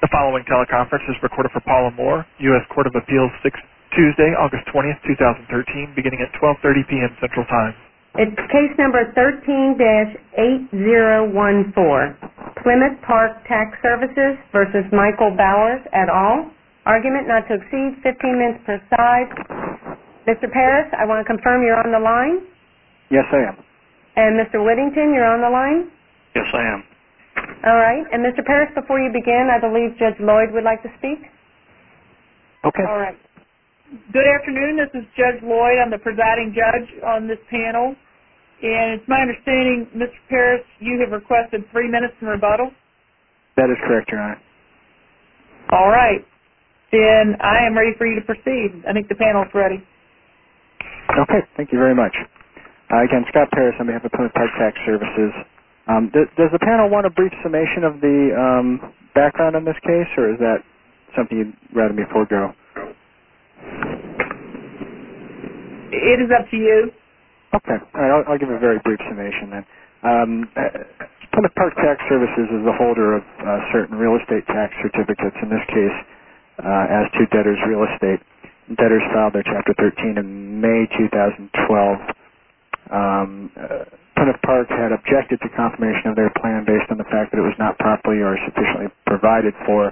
The following teleconference is recorded for Paula Moore, U.S. Court of Appeals, Tuesday, August 20, 2013, beginning at 1230 p.m. Central Time. Case number 13-8014, Plymouth Park Tax Services v. Michael Bowers, et al. Argument not to exceed 15 minutes per side. Mr. Parris, I want to confirm you're on the line? Yes, I am. And Mr. Whittington, you're on the line? Yes, I am. All right. And Mr. Parris, before you begin, I believe Judge Lloyd would like to speak. Okay. All right. Good afternoon. This is Judge Lloyd. I'm the presiding judge on this panel. And it's my understanding, Mr. Parris, you have requested three minutes in rebuttal? That is correct, Your Honor. All right. Then I am ready for you to proceed. I think the panel is ready. Okay. Thank you very much. Again, Scott Parris on behalf of Plymouth Park Tax Services. Does the panel want a brief summation of the background on this case, or is that something you'd rather me forego? It is up to you. Okay. All right. I'll give a very brief summation then. Plymouth Park Tax Services is a holder of certain real estate tax certificates, in this case, as to debtors' real estate. Debtors filed their Chapter 13 in May 2012. Plymouth Park had objected to confirmation of their plan based on the fact that it was not properly or sufficiently provided for,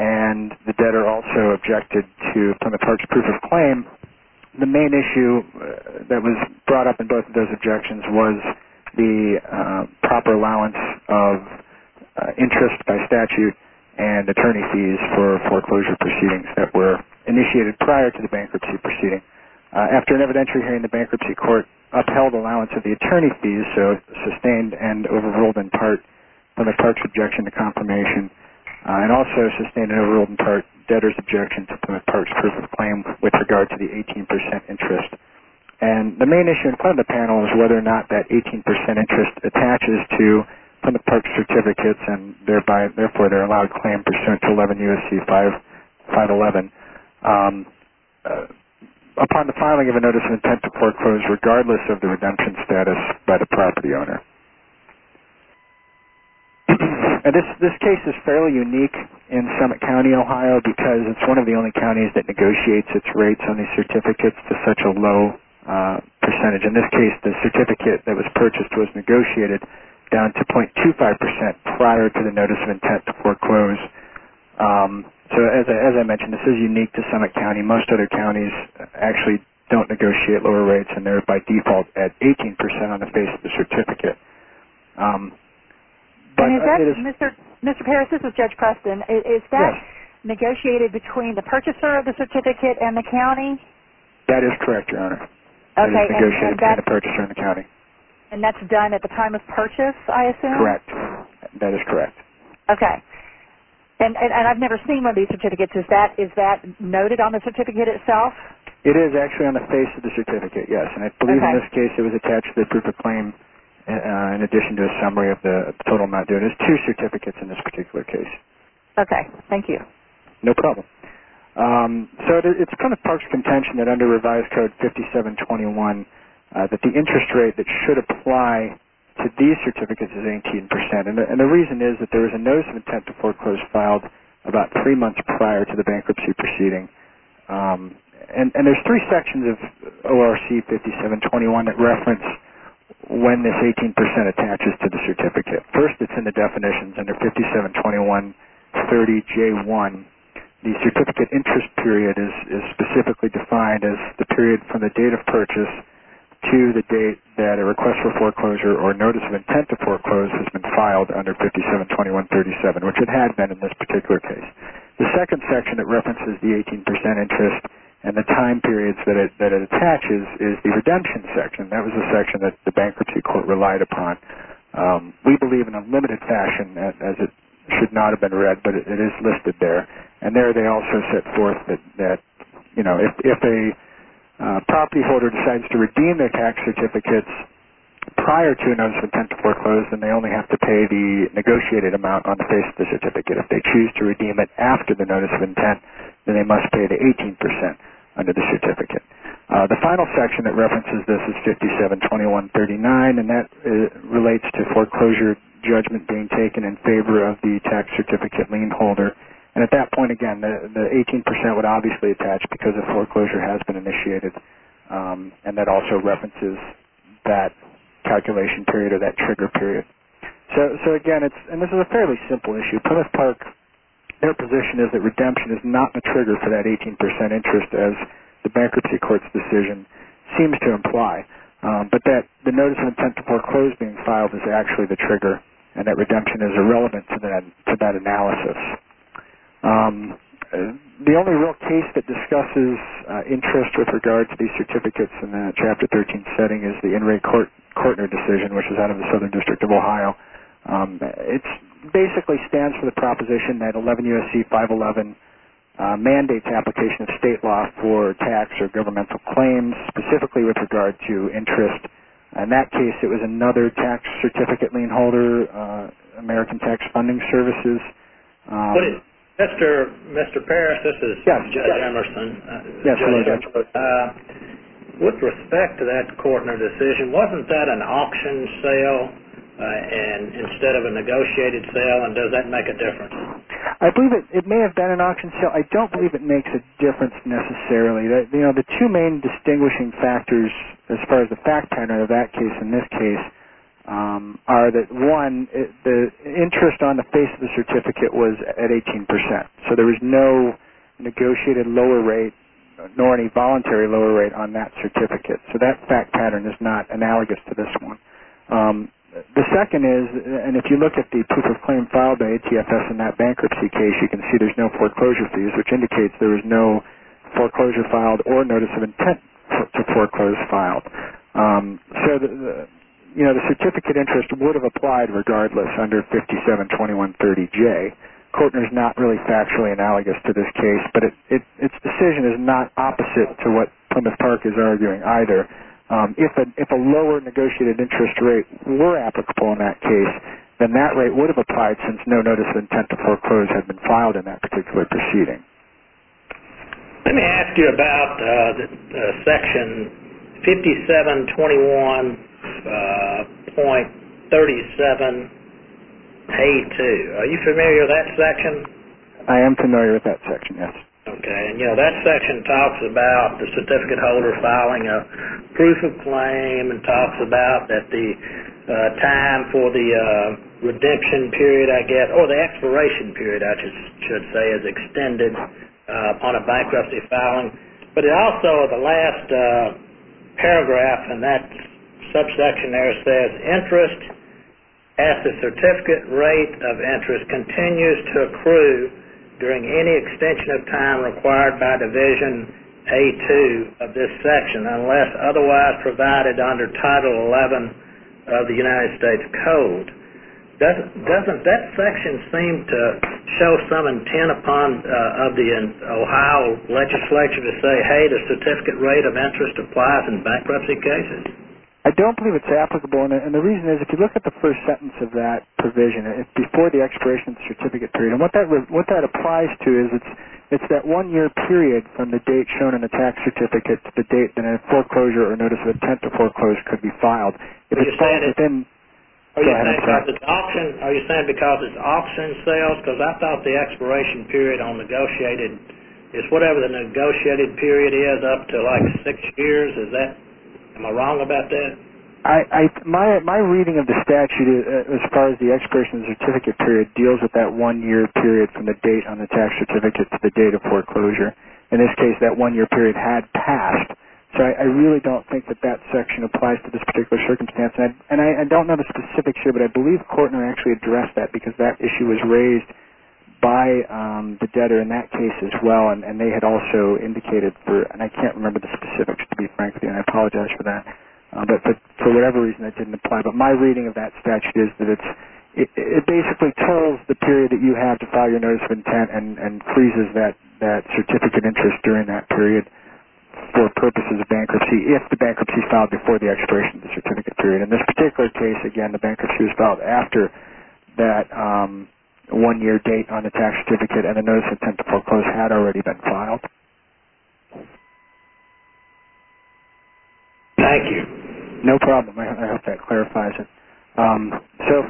and the debtor also objected to Plymouth Park's proof of claim. The main issue that was brought up in both of those objections was the proper allowance of interest by statute and attorney fees for foreclosure proceedings that were initiated prior to the bankruptcy proceeding. After an evidentiary hearing, the bankruptcy court upheld allowance of the attorney fees, so sustained and overruled in part Plymouth Park's objection to confirmation, and also sustained and overruled in part debtors' objection to Plymouth Park's proof of claim with regard to the 18% interest. The main issue in front of the panel is whether or not that 18% interest attaches to Plymouth Park's certificates, and therefore they're allowed claim pursuant to 11 U.S.C. 511 upon the filing of a notice of intent to foreclose regardless of the redemption status by the property owner. This case is fairly unique in Summit County, Ohio, because it's one of the only counties that negotiates its rates on these certificates to such a low percentage. In this case, the certificate that was purchased was negotiated down to 0.25% prior to the notice of intent to foreclose. As I mentioned, this is unique to Summit County. Most other counties actually don't negotiate lower rates, and they're by default at 18% on the face of the certificate. Judge Preston, is that negotiated between the purchaser of the certificate and the county? That is correct, Your Honor. It is negotiated between the purchaser and the county. And that's done at the time of purchase, I assume? Correct. That is correct. Okay. And I've never seen one of these certificates. Is that noted on the certificate itself? It is actually on the face of the certificate, yes. And I believe in this case it was attached to the proof of claim in addition to a summary of the total amount due. There's two certificates in this particular case. Okay. Thank you. No problem. So it kind of parks contention that under revised code 5721, that the interest rate that should apply to these certificates is 18%. And the reason is that there was a notice of intent to foreclose filed about three months prior to the bankruptcy proceeding. And there's three sections of ORC 5721 that reference when this 18% attaches to the certificate. First, it's in the definitions under 572130J1. The certificate interest period is specifically defined as the period from the date of purchase to the date that a request for foreclosure or notice of intent to foreclose has been filed under 572137, which it had been in this particular case. The second section that references the 18% interest and the time periods that it attaches is the redemption section. That was the section that the bankruptcy court relied upon. We believe in a limited fashion, as it should not have been read, but it is listed there. And there they also set forth that if a property holder decides to redeem their tax certificates prior to a notice of intent to foreclose, then they only have to pay the negotiated amount on the face of the certificate. If they choose to redeem it after the notice of intent, then they must pay the 18% under the certificate. The final section that references this is 572139, and that relates to foreclosure judgment being taken in favor of the tax certificate lien holder. At that point, again, the 18% would obviously attach because a foreclosure has been initiated, and that also references that calculation period or that trigger period. Again, this is a fairly simple issue. At Plymouth Park, their position is that redemption is not the trigger for that 18% interest, as the bankruptcy court's decision seems to imply, but that the notice of intent to foreclose being filed is actually the trigger and that redemption is irrelevant to that analysis. The only real case that discusses interest with regard to these certificates in the Chapter 13 setting is the In re Cortner decision, which is out of the Southern District of Ohio. It basically stands for the proposition that 11 U.S.C. 511 mandates application of state law for tax or governmental claims, specifically with regard to interest. In that case, it was another tax certificate lien holder, American Tax Funding Services. Mr. Parrish, this is Judge Emerson. With respect to that Cortner decision, wasn't that an auction sale instead of a negotiated sale, and does that make a difference? I believe it may have been an auction sale. I don't believe it makes a difference necessarily. The two main distinguishing factors, as far as the fact turner in that case and this case, are that one, the interest on the face of the certificate was at 18%, so there was no negotiated lower rate nor any voluntary lower rate on that certificate. That fact pattern is not analogous to this one. The second is, and if you look at the proof of claim filed by ATFS in that bankruptcy case, you can see there's no foreclosure fees, which indicates there is no foreclosure filed or notice of intent to foreclose filed. The certificate interest would have applied regardless under 572130J. Cortner is not really factually analogous to this case, but its decision is not opposite to what Plymouth Park is arguing either. If a lower negotiated interest rate were applicable in that case, then that rate would have applied since no notice of intent to foreclose had been filed in that particular proceeding. Let me ask you about section 5721.37A2. Are you familiar with that section? I am familiar with that section, yes. Okay, and that section talks about the certificate holder filing a proof of claim and talks about that the time for the redemption period, I guess, or the expiration period, I should say, is extended upon a bankruptcy filing. But it also, in the last paragraph in that subsection there, says interest as the certificate rate of interest continues to accrue during any extension of time required by Division A2 of this section unless otherwise provided under Title XI of the United States Code. Doesn't that section seem to show some intent of the Ohio legislature to say, hey, the certificate rate of interest applies in bankruptcy cases? I don't believe it's applicable. And the reason is if you look at the first sentence of that provision, it's before the expiration of the certificate period. And what that applies to is it's that one-year period from the date shown in the tax certificate to the date that a foreclosure or notice of intent to foreclose could be filed. Are you saying because it's auction sales? Because I thought the expiration period on negotiated is whatever the negotiated period is up to like six years. Am I wrong about that? My reading of the statute as far as the expiration of the certificate period deals with that one-year period from the date on the tax certificate to the date of foreclosure. In this case, that one-year period had passed. So I really don't think that that section applies to this particular circumstance. And I don't know the specifics here, but I believe Kortner actually addressed that because that issue was raised by the debtor in that case as well. And they had also indicated, and I can't remember the specifics to be frank with you, and I apologize for that, but for whatever reason that didn't apply. But my reading of that statute is that it basically tells the period that you have to file your notice of intent and freezes that certificate interest during that period for purposes of bankruptcy if the bankruptcy is filed before the expiration of the certificate period. In this particular case, again, the bankruptcy was filed after that one-year date on the tax certificate and the notice of intent to foreclose had already been filed. Thank you. No problem. I hope that clarifies it. So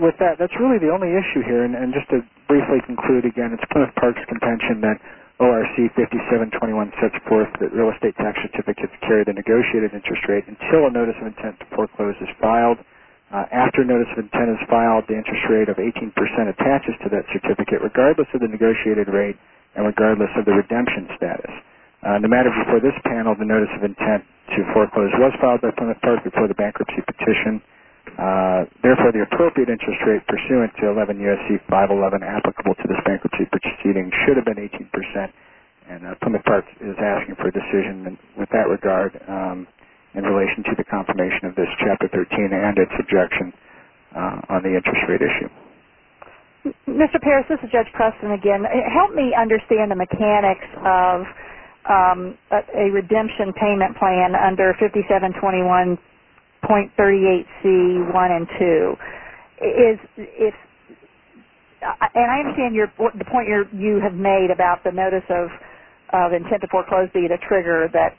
with that, that's really the only issue here. And just to briefly conclude, again, it's Plymouth Park's contention that ORC 5721 sets forth that real estate tax certificates carry the negotiated interest rate until a notice of intent to foreclose is filed. After notice of intent is filed, the interest rate of 18% attaches to that certificate regardless of the negotiated rate and regardless of the redemption status. In the matter before this panel, the notice of intent to foreclose was filed by Plymouth Park before the bankruptcy petition. Therefore, the appropriate interest rate pursuant to 11 U.S.C. 511 applicable to this bankruptcy petition should have been 18%. And Plymouth Park is asking for a decision with that regard in relation to the confirmation of this Chapter 13 and its objection on the interest rate issue. Mr. Parris, this is Judge Preston again. Help me understand the mechanics of a redemption payment plan under 5721.38C1 and 2. And I understand the point you have made about the notice of intent to foreclose being a trigger that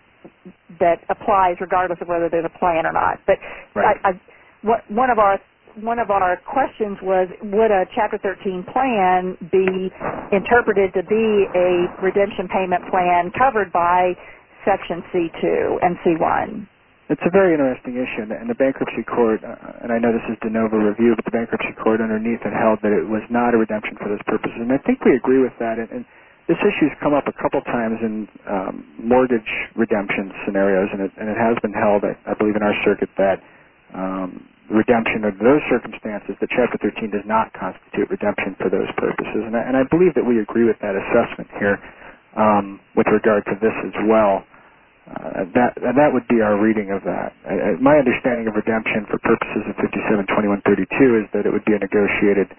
applies regardless of whether there's a plan or not. One of our questions was, would a Chapter 13 plan be interpreted to be a redemption payment plan covered by Section C2 and C1? It's a very interesting issue. And the bankruptcy court, and I know this is de novo review, but the bankruptcy court underneath it held that it was not a redemption for those purposes. And I think we agree with that. This issue has come up a couple of times in mortgage redemption scenarios. And it has been held, I believe, in our circuit that redemption of those circumstances, the Chapter 13 does not constitute redemption for those purposes. And I believe that we agree with that assessment here with regard to this as well. And that would be our reading of that. My understanding of redemption for purposes of 5721.32 is that it would be a negotiated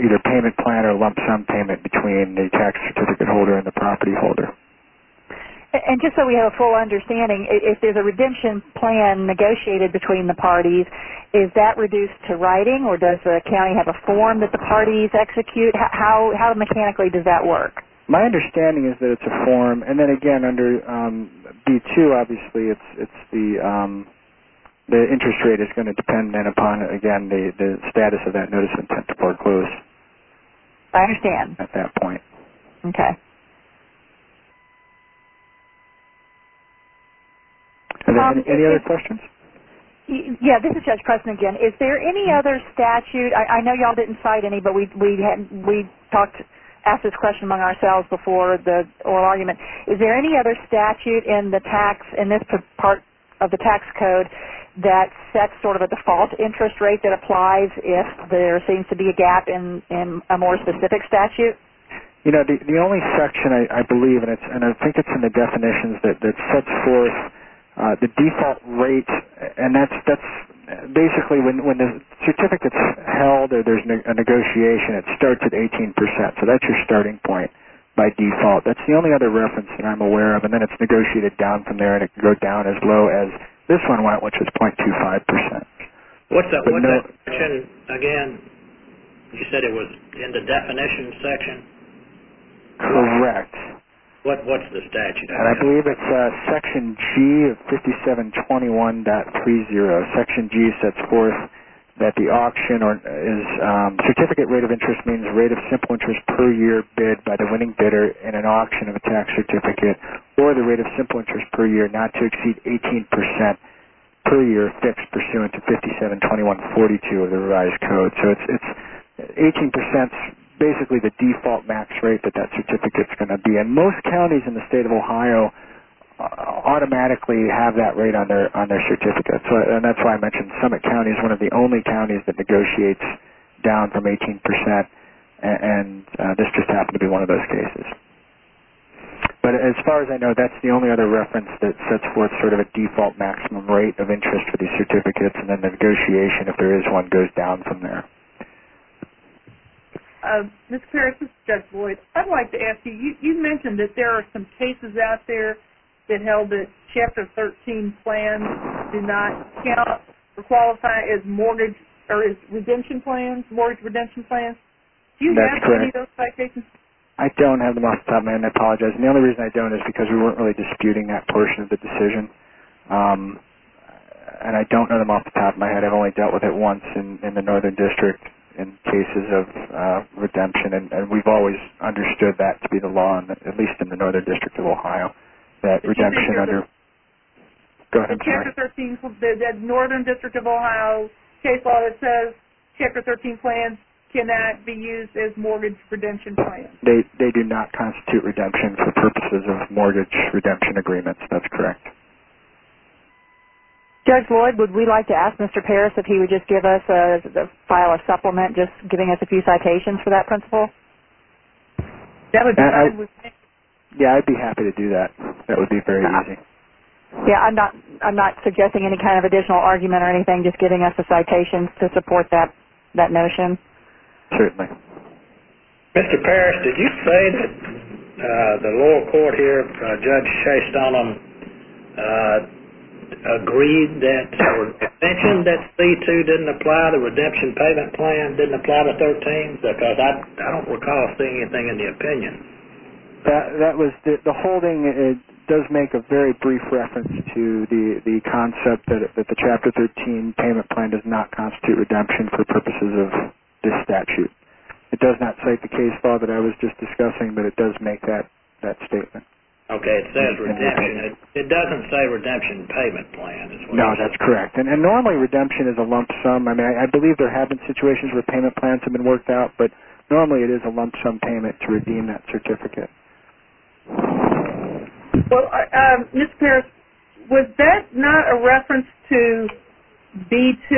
either payment plan or lump sum payment between the tax certificate holder and the property holder. And just so we have a full understanding, if there's a redemption plan negotiated between the parties, is that reduced to writing or does the county have a form that the parties execute? How mechanically does that work? My understanding is that it's a form. And then, again, under B2, obviously, it's the interest rate is going to depend upon, again, the status of that notice of intent to foreclose. I understand. At that point. Okay. Any other questions? Yeah, this is Judge Preston again. Is there any other statute? I know you all didn't cite any, but we asked this question among ourselves before the oral argument. Is there any other statute in this part of the tax code that sets sort of a default interest rate that applies if there seems to be a gap in a more specific statute? You know, the only section I believe, and I think it's in the definitions, that sets forth the default rate, and that's basically when the certificate's held or there's a negotiation, it starts at 18 percent. So that's your starting point by default. That's the only other reference that I'm aware of. And then it's negotiated down from there, and it can go down as low as this one, which is 0.25 percent. What's that one section again? You said it was in the definitions section? Correct. What's the statute? I believe it's section G of 5721.30. Section G sets forth that the auction or certificate rate of interest means rate of simple interest per year bid by the winning bidder in an auction of a tax certificate or the rate of simple interest per year not to exceed 18 percent per year fixed pursuant to 5721.42 of the revised code. So 18 percent's basically the default max rate that that certificate's going to be, and most counties in the state of Ohio automatically have that rate on their certificate, and that's why I mentioned Summit County is one of the only counties that negotiates down from 18 percent, and this just happened to be one of those cases. But as far as I know, that's the only other reference that sets forth sort of a default maximum rate of interest for these certificates, and then the negotiation, if there is one, goes down from there. Ms. Parrish, this is Judge Lloyd. I'd like to ask you, you mentioned that there are some cases out there that held that Chapter 13 plans do not count or qualify as mortgage or as redemption plans, mortgage redemption plans. Do you have any of those type cases? I don't have them off the top of my head, and I apologize, and the only reason I don't is because we weren't really disputing that portion of the decision, and I don't have them off the top of my head. I've only dealt with it once in the Northern District in cases of redemption, and we've always understood that to be the law, at least in the Northern District of Ohio, that redemption under... Go ahead, I'm sorry. The Northern District of Ohio case law that says Chapter 13 plans cannot be used as mortgage redemption plans. They do not constitute redemption for purposes of mortgage redemption agreements. That's correct. Judge Lloyd, would we like to ask Mr. Parrish if he would just give us a file of supplement, just giving us a few citations for that principle? Yeah, I'd be happy to do that. That would be very easy. Yeah, I'm not suggesting any kind of additional argument or anything, just giving us a citation to support that notion. Certainly. Mr. Parrish, did you say that the lower court here, Judge Shea-Stollom, agreed that or mentioned that C-2 didn't apply, the redemption payment plan didn't apply to 13? Because I don't recall seeing anything in the opinion. The holding does make a very brief reference to the concept that the Chapter 13 payment plan does not constitute redemption for purposes of this statute. It does not cite the case law that I was just discussing, but it does make that statement. Okay, it says redemption. It doesn't say redemption payment plan. No, that's correct. And normally redemption is a lump sum. I mean, I believe there have been situations where payment plans have been worked out, but normally it is a lump sum payment to redeem that certificate. Well, Mr. Parrish, was that not a reference to B-2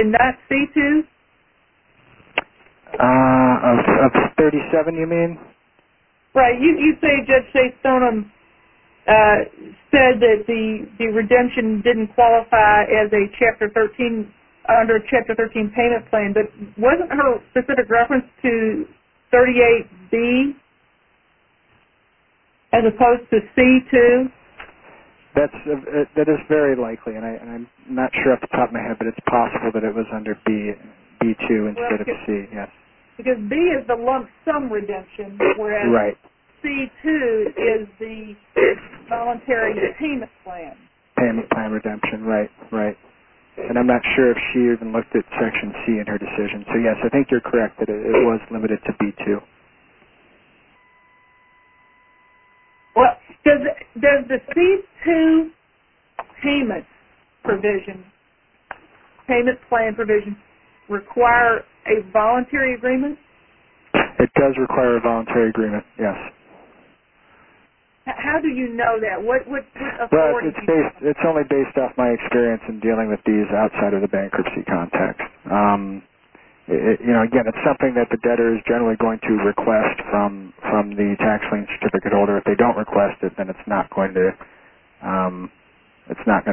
and not C-2? Of 37, you mean? Right. You say Judge Shea-Stollom said that the redemption didn't qualify as a Chapter 13, redemption payment plan, but wasn't her specific reference to 38B as opposed to C-2? That is very likely, and I'm not sure off the top of my head, but it's possible that it was under B-2 instead of C, yes. Because B is the lump sum redemption, whereas C-2 is the voluntary payment plan. Payment plan redemption, right, right. And I'm not sure if she even looked at Section C in her decision. So, yes, I think you're correct that it was limited to B-2. Does the C-2 payment provision, payment plan provision, require a voluntary agreement? It does require a voluntary agreement, yes. How do you know that? It's only based off my experience in dealing with these outside of the bankruptcy context. Again, it's something that the debtor is generally going to request from the tax lien certificate holder. If they don't request it, then it's not going to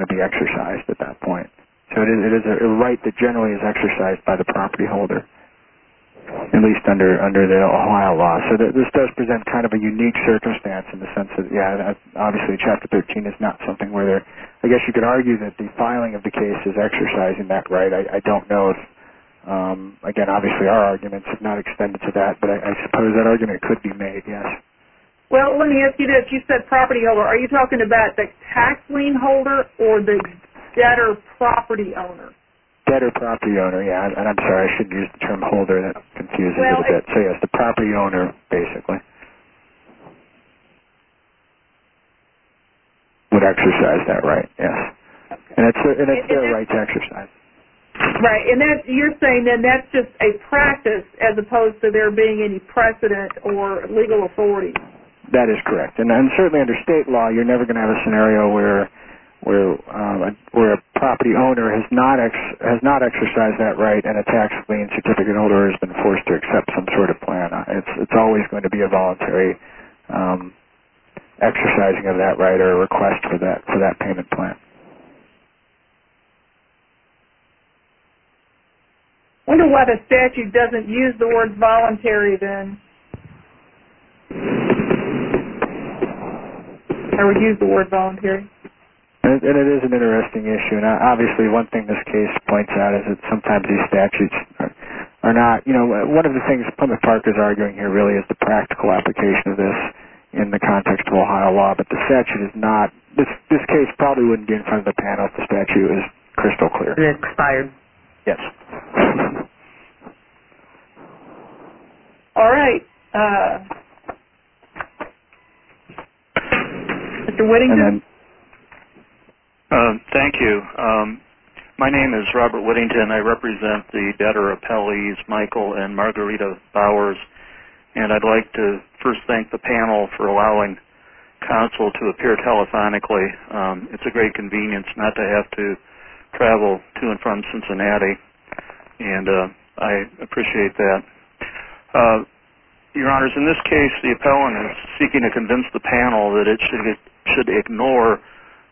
be exercised at that point. So it is a right that generally is exercised by the property holder, at least under the Ohio law. So this does present kind of a unique circumstance in the sense that, yes, obviously Chapter 13 is not something where there, I guess you could argue that the filing of the case is exercising that right. I don't know if, again, obviously our arguments have not extended to that, but I suppose that argument could be made, yes. Well, let me ask you this. You said property holder. Are you talking about the tax lien holder or the debtor property owner? Debtor property owner, yes. And I'm sorry, I shouldn't use the term holder. That's confusing a little bit. So, yes, the property owner basically would exercise that right, yes. And it's their right to exercise it. Right. And you're saying then that's just a practice as opposed to there being any precedent or legal authority. That is correct. And certainly under state law, you're never going to have a scenario where a property owner has not exercised that right and a tax lien certificate holder has been forced to accept some sort of plan. It's always going to be a voluntary exercising of that right or a request for that payment plan. I wonder why the statute doesn't use the word voluntary then. I would use the word voluntary. And it is an interesting issue. And obviously one thing this case points out is that sometimes these statutes are not, you know, one of the things Plymouth Park is arguing here really is the practical application of this in the context of Ohio law. But the statute is not. This case probably wouldn't be in front of the panel if the statute was crystal clear. It expired. Yes. All right. Mr. Whittington. Thank you. My name is Robert Whittington. I represent the debtor appellees Michael and Margarita Bowers. And I'd like to first thank the panel for allowing counsel to appear telephonically. It's a great convenience not to have to travel to and from Cincinnati. And I appreciate that. Your Honors, in this case the appellant is seeking to convince the panel that it should ignore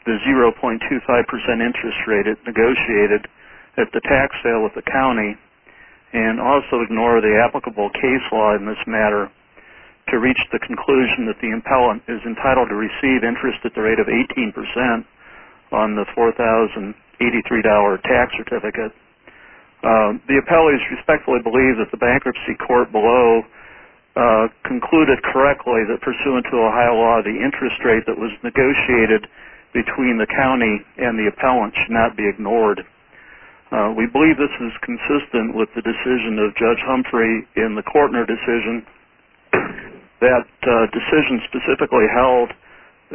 the 0.25% interest rate negotiated at the tax sale with the county and also ignore the applicable case law in this matter to reach the conclusion that the appellant is entitled to receive interest at the rate of 18% on the $4,083 tax certificate. The appellees respectfully believe that the bankruptcy court below concluded correctly that pursuant to Ohio law, the interest rate that was negotiated between the county and the appellant should not be ignored. We believe this is consistent with the decision of Judge Humphrey in the Kortner decision. That decision specifically held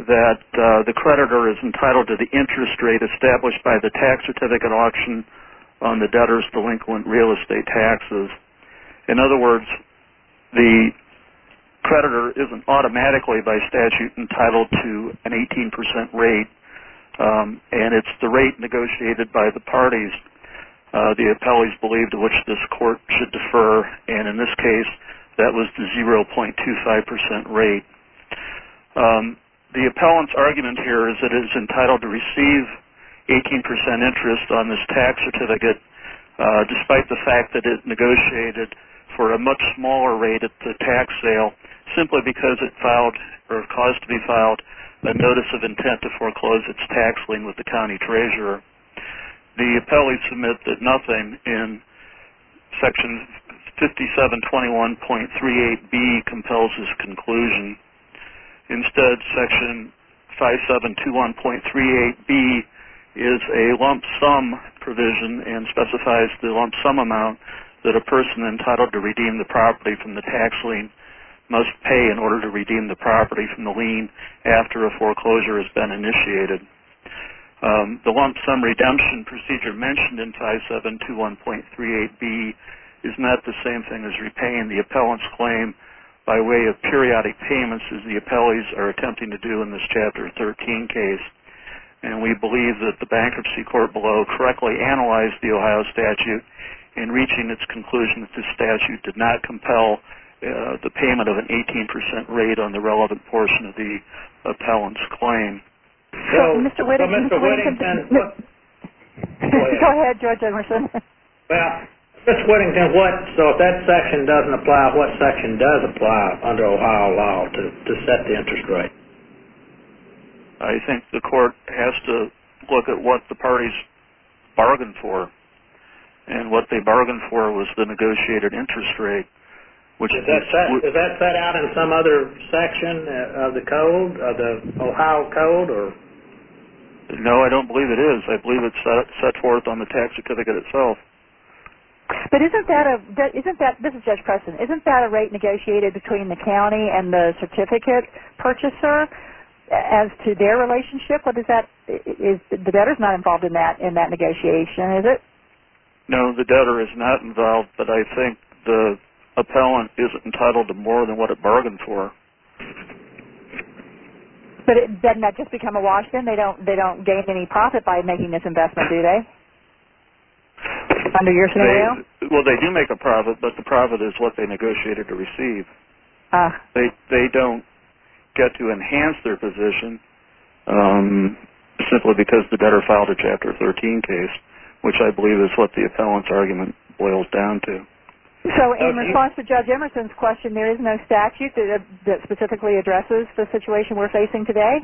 that the creditor is entitled to the interest rate established by the tax certificate at auction on the debtor's delinquent real estate taxes. In other words, the creditor isn't automatically by statute entitled to an 18% rate. And it's the rate negotiated by the parties the appellees believe to which this court should defer. And in this case, that was the 0.25% rate. The appellant's argument here is that it is entitled to receive 18% interest on this tax certificate despite the fact that it negotiated for a much smaller rate at the tax sale simply because it filed or caused to be filed a notice of intent to foreclose its tax lien with the county treasurer. The appellee submits that nothing in section 5721.38B compels this conclusion. Instead, section 5721.38B is a lump sum provision and specifies the lump sum amount that a person entitled to redeem the property from the tax lien must pay in order to redeem the property from the lien after a foreclosure has been initiated. The lump sum redemption procedure mentioned in 5721.38B is not the same thing as repaying the appellant's claim by way of periodic payments as the appellees are attempting to do in this Chapter 13 case. And we believe that the bankruptcy court below correctly analyzed the Ohio statute in reaching its conclusion that this statute did not compel the payment of an 18% rate on the relevant portion of the appellant's claim. So Mr. Whittington... Go ahead, George Emerson. Well, Mr. Whittington, so if that section doesn't apply, what section does apply under Ohio law to set the interest rate? I think the court has to look at what the parties bargained for. And what they bargained for was the negotiated interest rate. Is that set out in some other section of the Ohio Code? No, I don't believe it is. I believe it's set forth on the tax certificate itself. But isn't that a rate negotiated between the county and the certificate purchaser as to their relationship? The debtor's not involved in that negotiation, is it? No, the debtor is not involved, but I think the appellant is entitled to more than what it bargained for. But doesn't that just become a wash then? They don't gain any profit by making this investment, do they? Under your scenario? Well, they do make a profit, but the profit is what they negotiated to receive. They don't get to enhance their position simply because the debtor filed a Chapter 13 case, which I believe is what the appellant's argument boils down to. So in response to Judge Emerson's question, there is no statute that specifically addresses the situation we're facing today?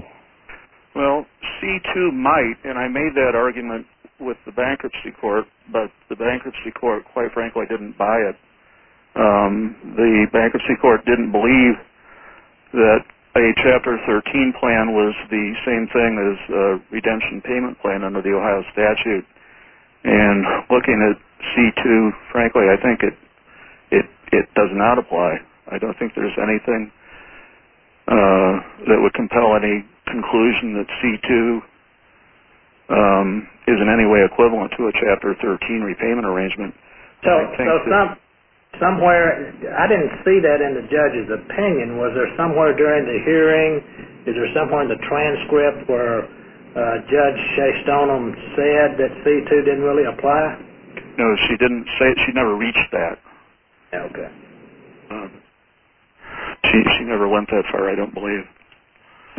Well, C-2 might, and I made that argument with the Bankruptcy Court, but the Bankruptcy Court, quite frankly, didn't buy it. The Bankruptcy Court didn't believe that a Chapter 13 plan was the same thing as a redemption payment plan under the Ohio statute. And looking at C-2, frankly, I think it does not apply. I don't think there's anything that would compel any conclusion that C-2 is in any way equivalent to a Chapter 13 repayment arrangement. So somewhere, I didn't see that in the judge's opinion. Was there somewhere during the hearing, is there somewhere in the transcript where Judge Shea-Stonem said that C-2 didn't really apply? No, she didn't say it. She never reached that. Okay. She never went that far, I don't believe.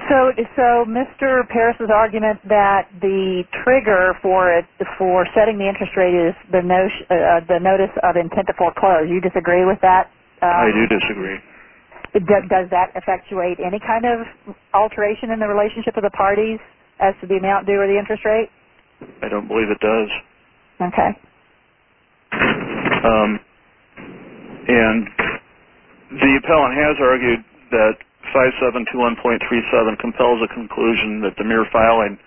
So Mr. Parris's argument that the trigger for setting the interest rate is the notice of intent to foreclose, you disagree with that? I do disagree. And does that effectuate any kind of alteration in the relationship of the parties as to the amount due or the interest rate? I don't believe it does. Okay. And the appellant has argued that 5721.37 compels a conclusion that the mere filing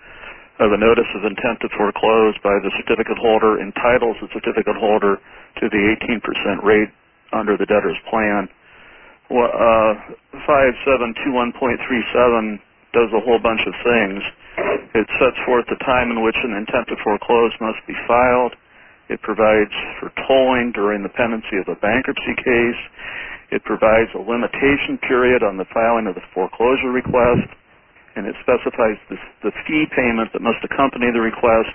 of a notice of intent to foreclose by the certificate holder entitles the certificate holder to the 18% rate under the debtor's plan. 5721.37 does a whole bunch of things. It sets forth the time in which an intent to foreclose must be filed. It provides for tolling during the pendency of a bankruptcy case. It provides a limitation period on the filing of the foreclosure request. And it specifies the fee payment that must accompany the request.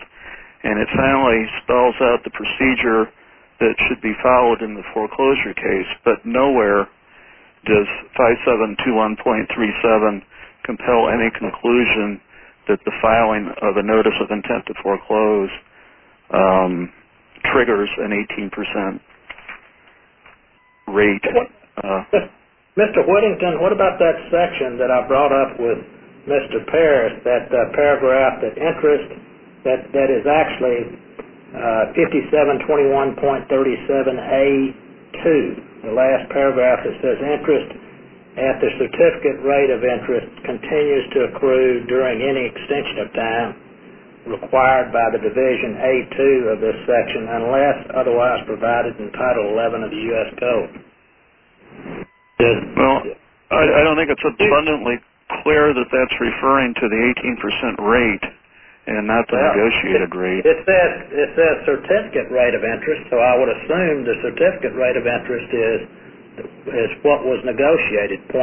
And it finally spells out the procedure that should be followed in the foreclosure case. But nowhere does 5721.37 compel any conclusion that the filing of a notice of intent to foreclose triggers an 18% rate. Mr. Whittington, what about that section that I brought up with Mr. Parris, that paragraph that interest, that is actually 5721.37A2, the last paragraph that says interest at the certificate rate of interest continues to accrue during any extension of time required by the Division A2 of this section unless otherwise provided in Title 11 of the U.S. Code? Well, I don't think it's abundantly clear that that's referring to the 18% rate and not the negotiated rate. It says certificate rate of interest, so I would assume the certificate rate of interest is what was negotiated, 0.25%.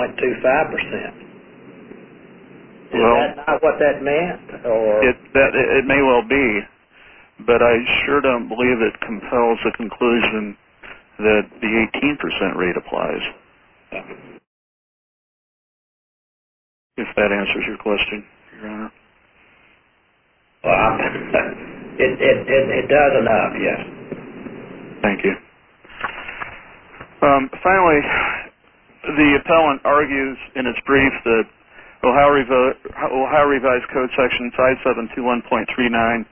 Is that not what that meant? It may well be, but I sure don't believe it compels a conclusion that the 18% rate applies. If that answers your question, Your Honor. It does enough, yes. Thank you. Finally, the appellant argues in its brief that Ohio Revised Code Section 5721.39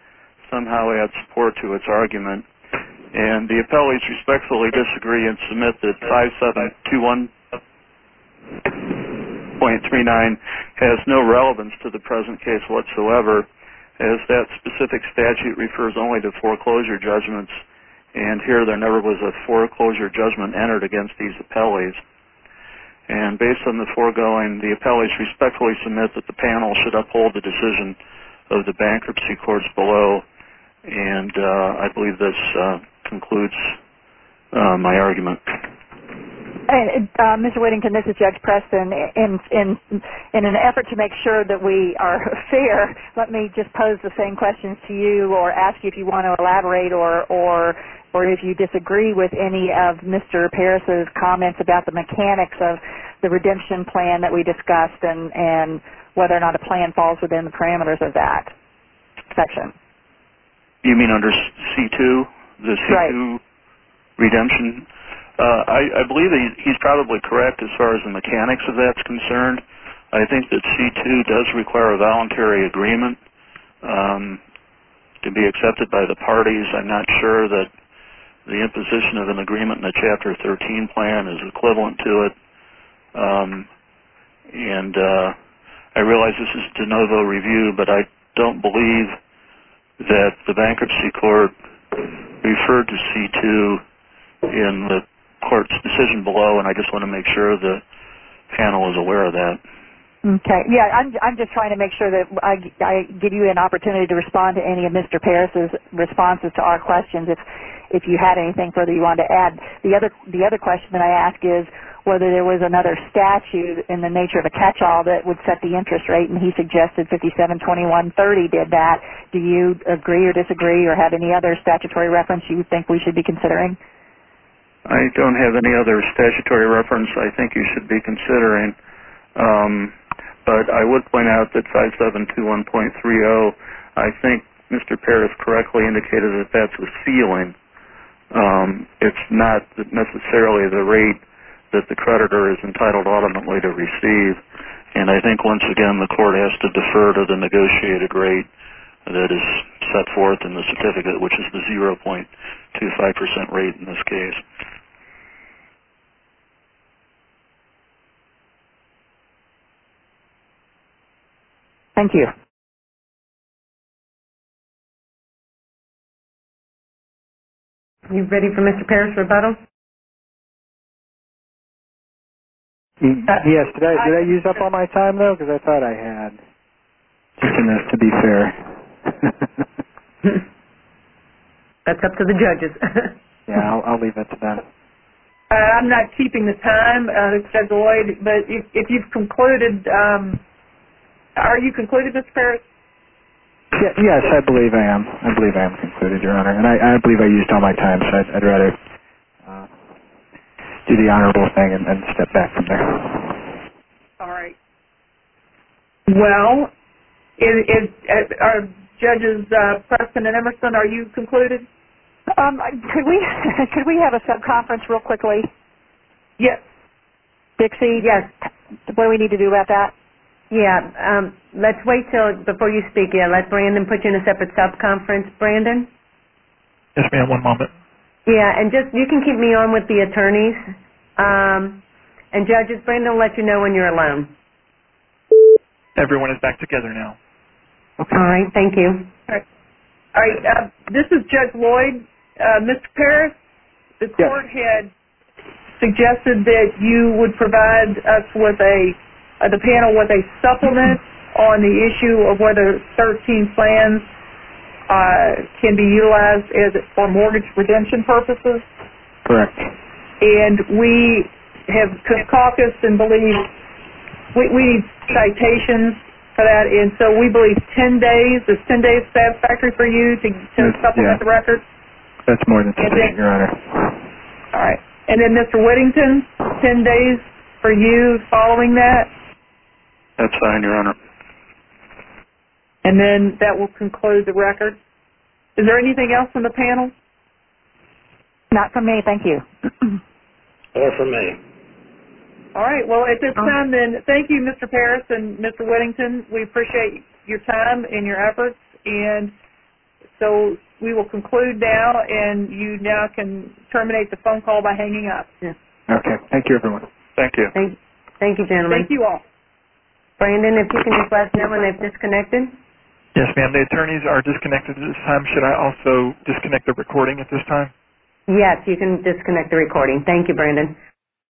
somehow adds support to its argument, and the appellees respectfully disagree and submit that 5721.39 has no relevance to the present case whatsoever, as that specific statute refers only to foreclosure judgments, and here there never was a foreclosure judgment entered against these appellees. Based on the foregoing, the appellees respectfully submit that the panel should uphold the decision of the bankruptcy courts below, and I believe this concludes my argument. Mr. Whittington, this is Judge Preston. In an effort to make sure that we are fair, let me just pose the same questions to you or ask you if you want to elaborate or if you disagree with any of Mr. Paris' comments about the mechanics of the redemption plan that we discussed and whether or not a plan falls within the parameters of that section. You mean under C2, the C2 redemption? I believe he's probably correct as far as the mechanics of that is concerned. I think that C2 does require a voluntary agreement to be accepted by the parties. I'm not sure that the imposition of an agreement in a Chapter 13 plan is equivalent to it. I realize this is de novo review, but I don't believe that the bankruptcy court referred to C2 in the court's decision below, and I just want to make sure the panel is aware of that. I'm just trying to make sure that I give you an opportunity to respond to any of Mr. Paris' responses to our questions if you had anything further you wanted to add. The other question that I ask is whether there was another statute in the nature of a catch-all that would set the interest rate, and he suggested 572130 did that. Do you agree or disagree or have any other statutory reference you think we should be considering? I don't have any other statutory reference I think you should be considering, but I would point out that 572130, I think Mr. Paris correctly indicated that that's a ceiling. It's not necessarily the rate that the creditor is entitled ultimately to receive, and I think once again the court has to defer to the negotiated rate that is set forth in the certificate, which is the 0.25% rate in this case. Thank you. Are you ready for Mr. Paris' rebuttal? Yes. Did I use up all my time, though? Because I thought I had. To be fair. That's up to the judges. I'll leave it to them. I'm not keeping the time, Mr. Lloyd, but if you've concluded, are you concluded, Mr. Paris? Yes, I believe I am. I believe I am concluded, Your Honor. And I believe I used all my time, so I'd rather do the honorable thing and step back from there. All right. Well, are Judges Preston and Emerson, are you concluded? Could we have a sub-conference real quickly? Yes. Dixie? Yes. What do we need to do about that? Yes. Let's wait until before you speak. I'll let Brandon put you in a separate sub-conference. Brandon? Yes, ma'am. One moment. Yes. And you can keep me on with the attorneys. And Judges, Brandon will let you know when you're alone. Everyone is back together now. All right. Thank you. All right. This is Judge Lloyd. Mr. Paris, the court had suggested that you would provide us with a – the panel with a supplement on the issue of whether 13 plans can be utilized for mortgage redemption purposes. Correct. And we have caucused and believe – we need citations for that. And so we believe 10 days. Is 10 days satisfactory for you to supplement the record? That's more than sufficient, Your Honor. All right. And then Mr. Whittington, 10 days for you following that? That's fine, Your Honor. And then that will conclude the record. Is there anything else from the panel? Not from me. Thank you. Or from me. All right. Well, at this time, then, thank you, Mr. Paris and Mr. Whittington. We appreciate your time and your efforts. And so we will conclude now. And you now can terminate the phone call by hanging up. Okay. Thank you, everyone. Thank you. Thank you, gentlemen. Thank you all. Brandon, if you can just let them know when they've disconnected. Yes, ma'am. The attorneys are disconnected at this time. Should I also disconnect the recording at this time? Yes, you can disconnect the recording. Thank you, Brandon.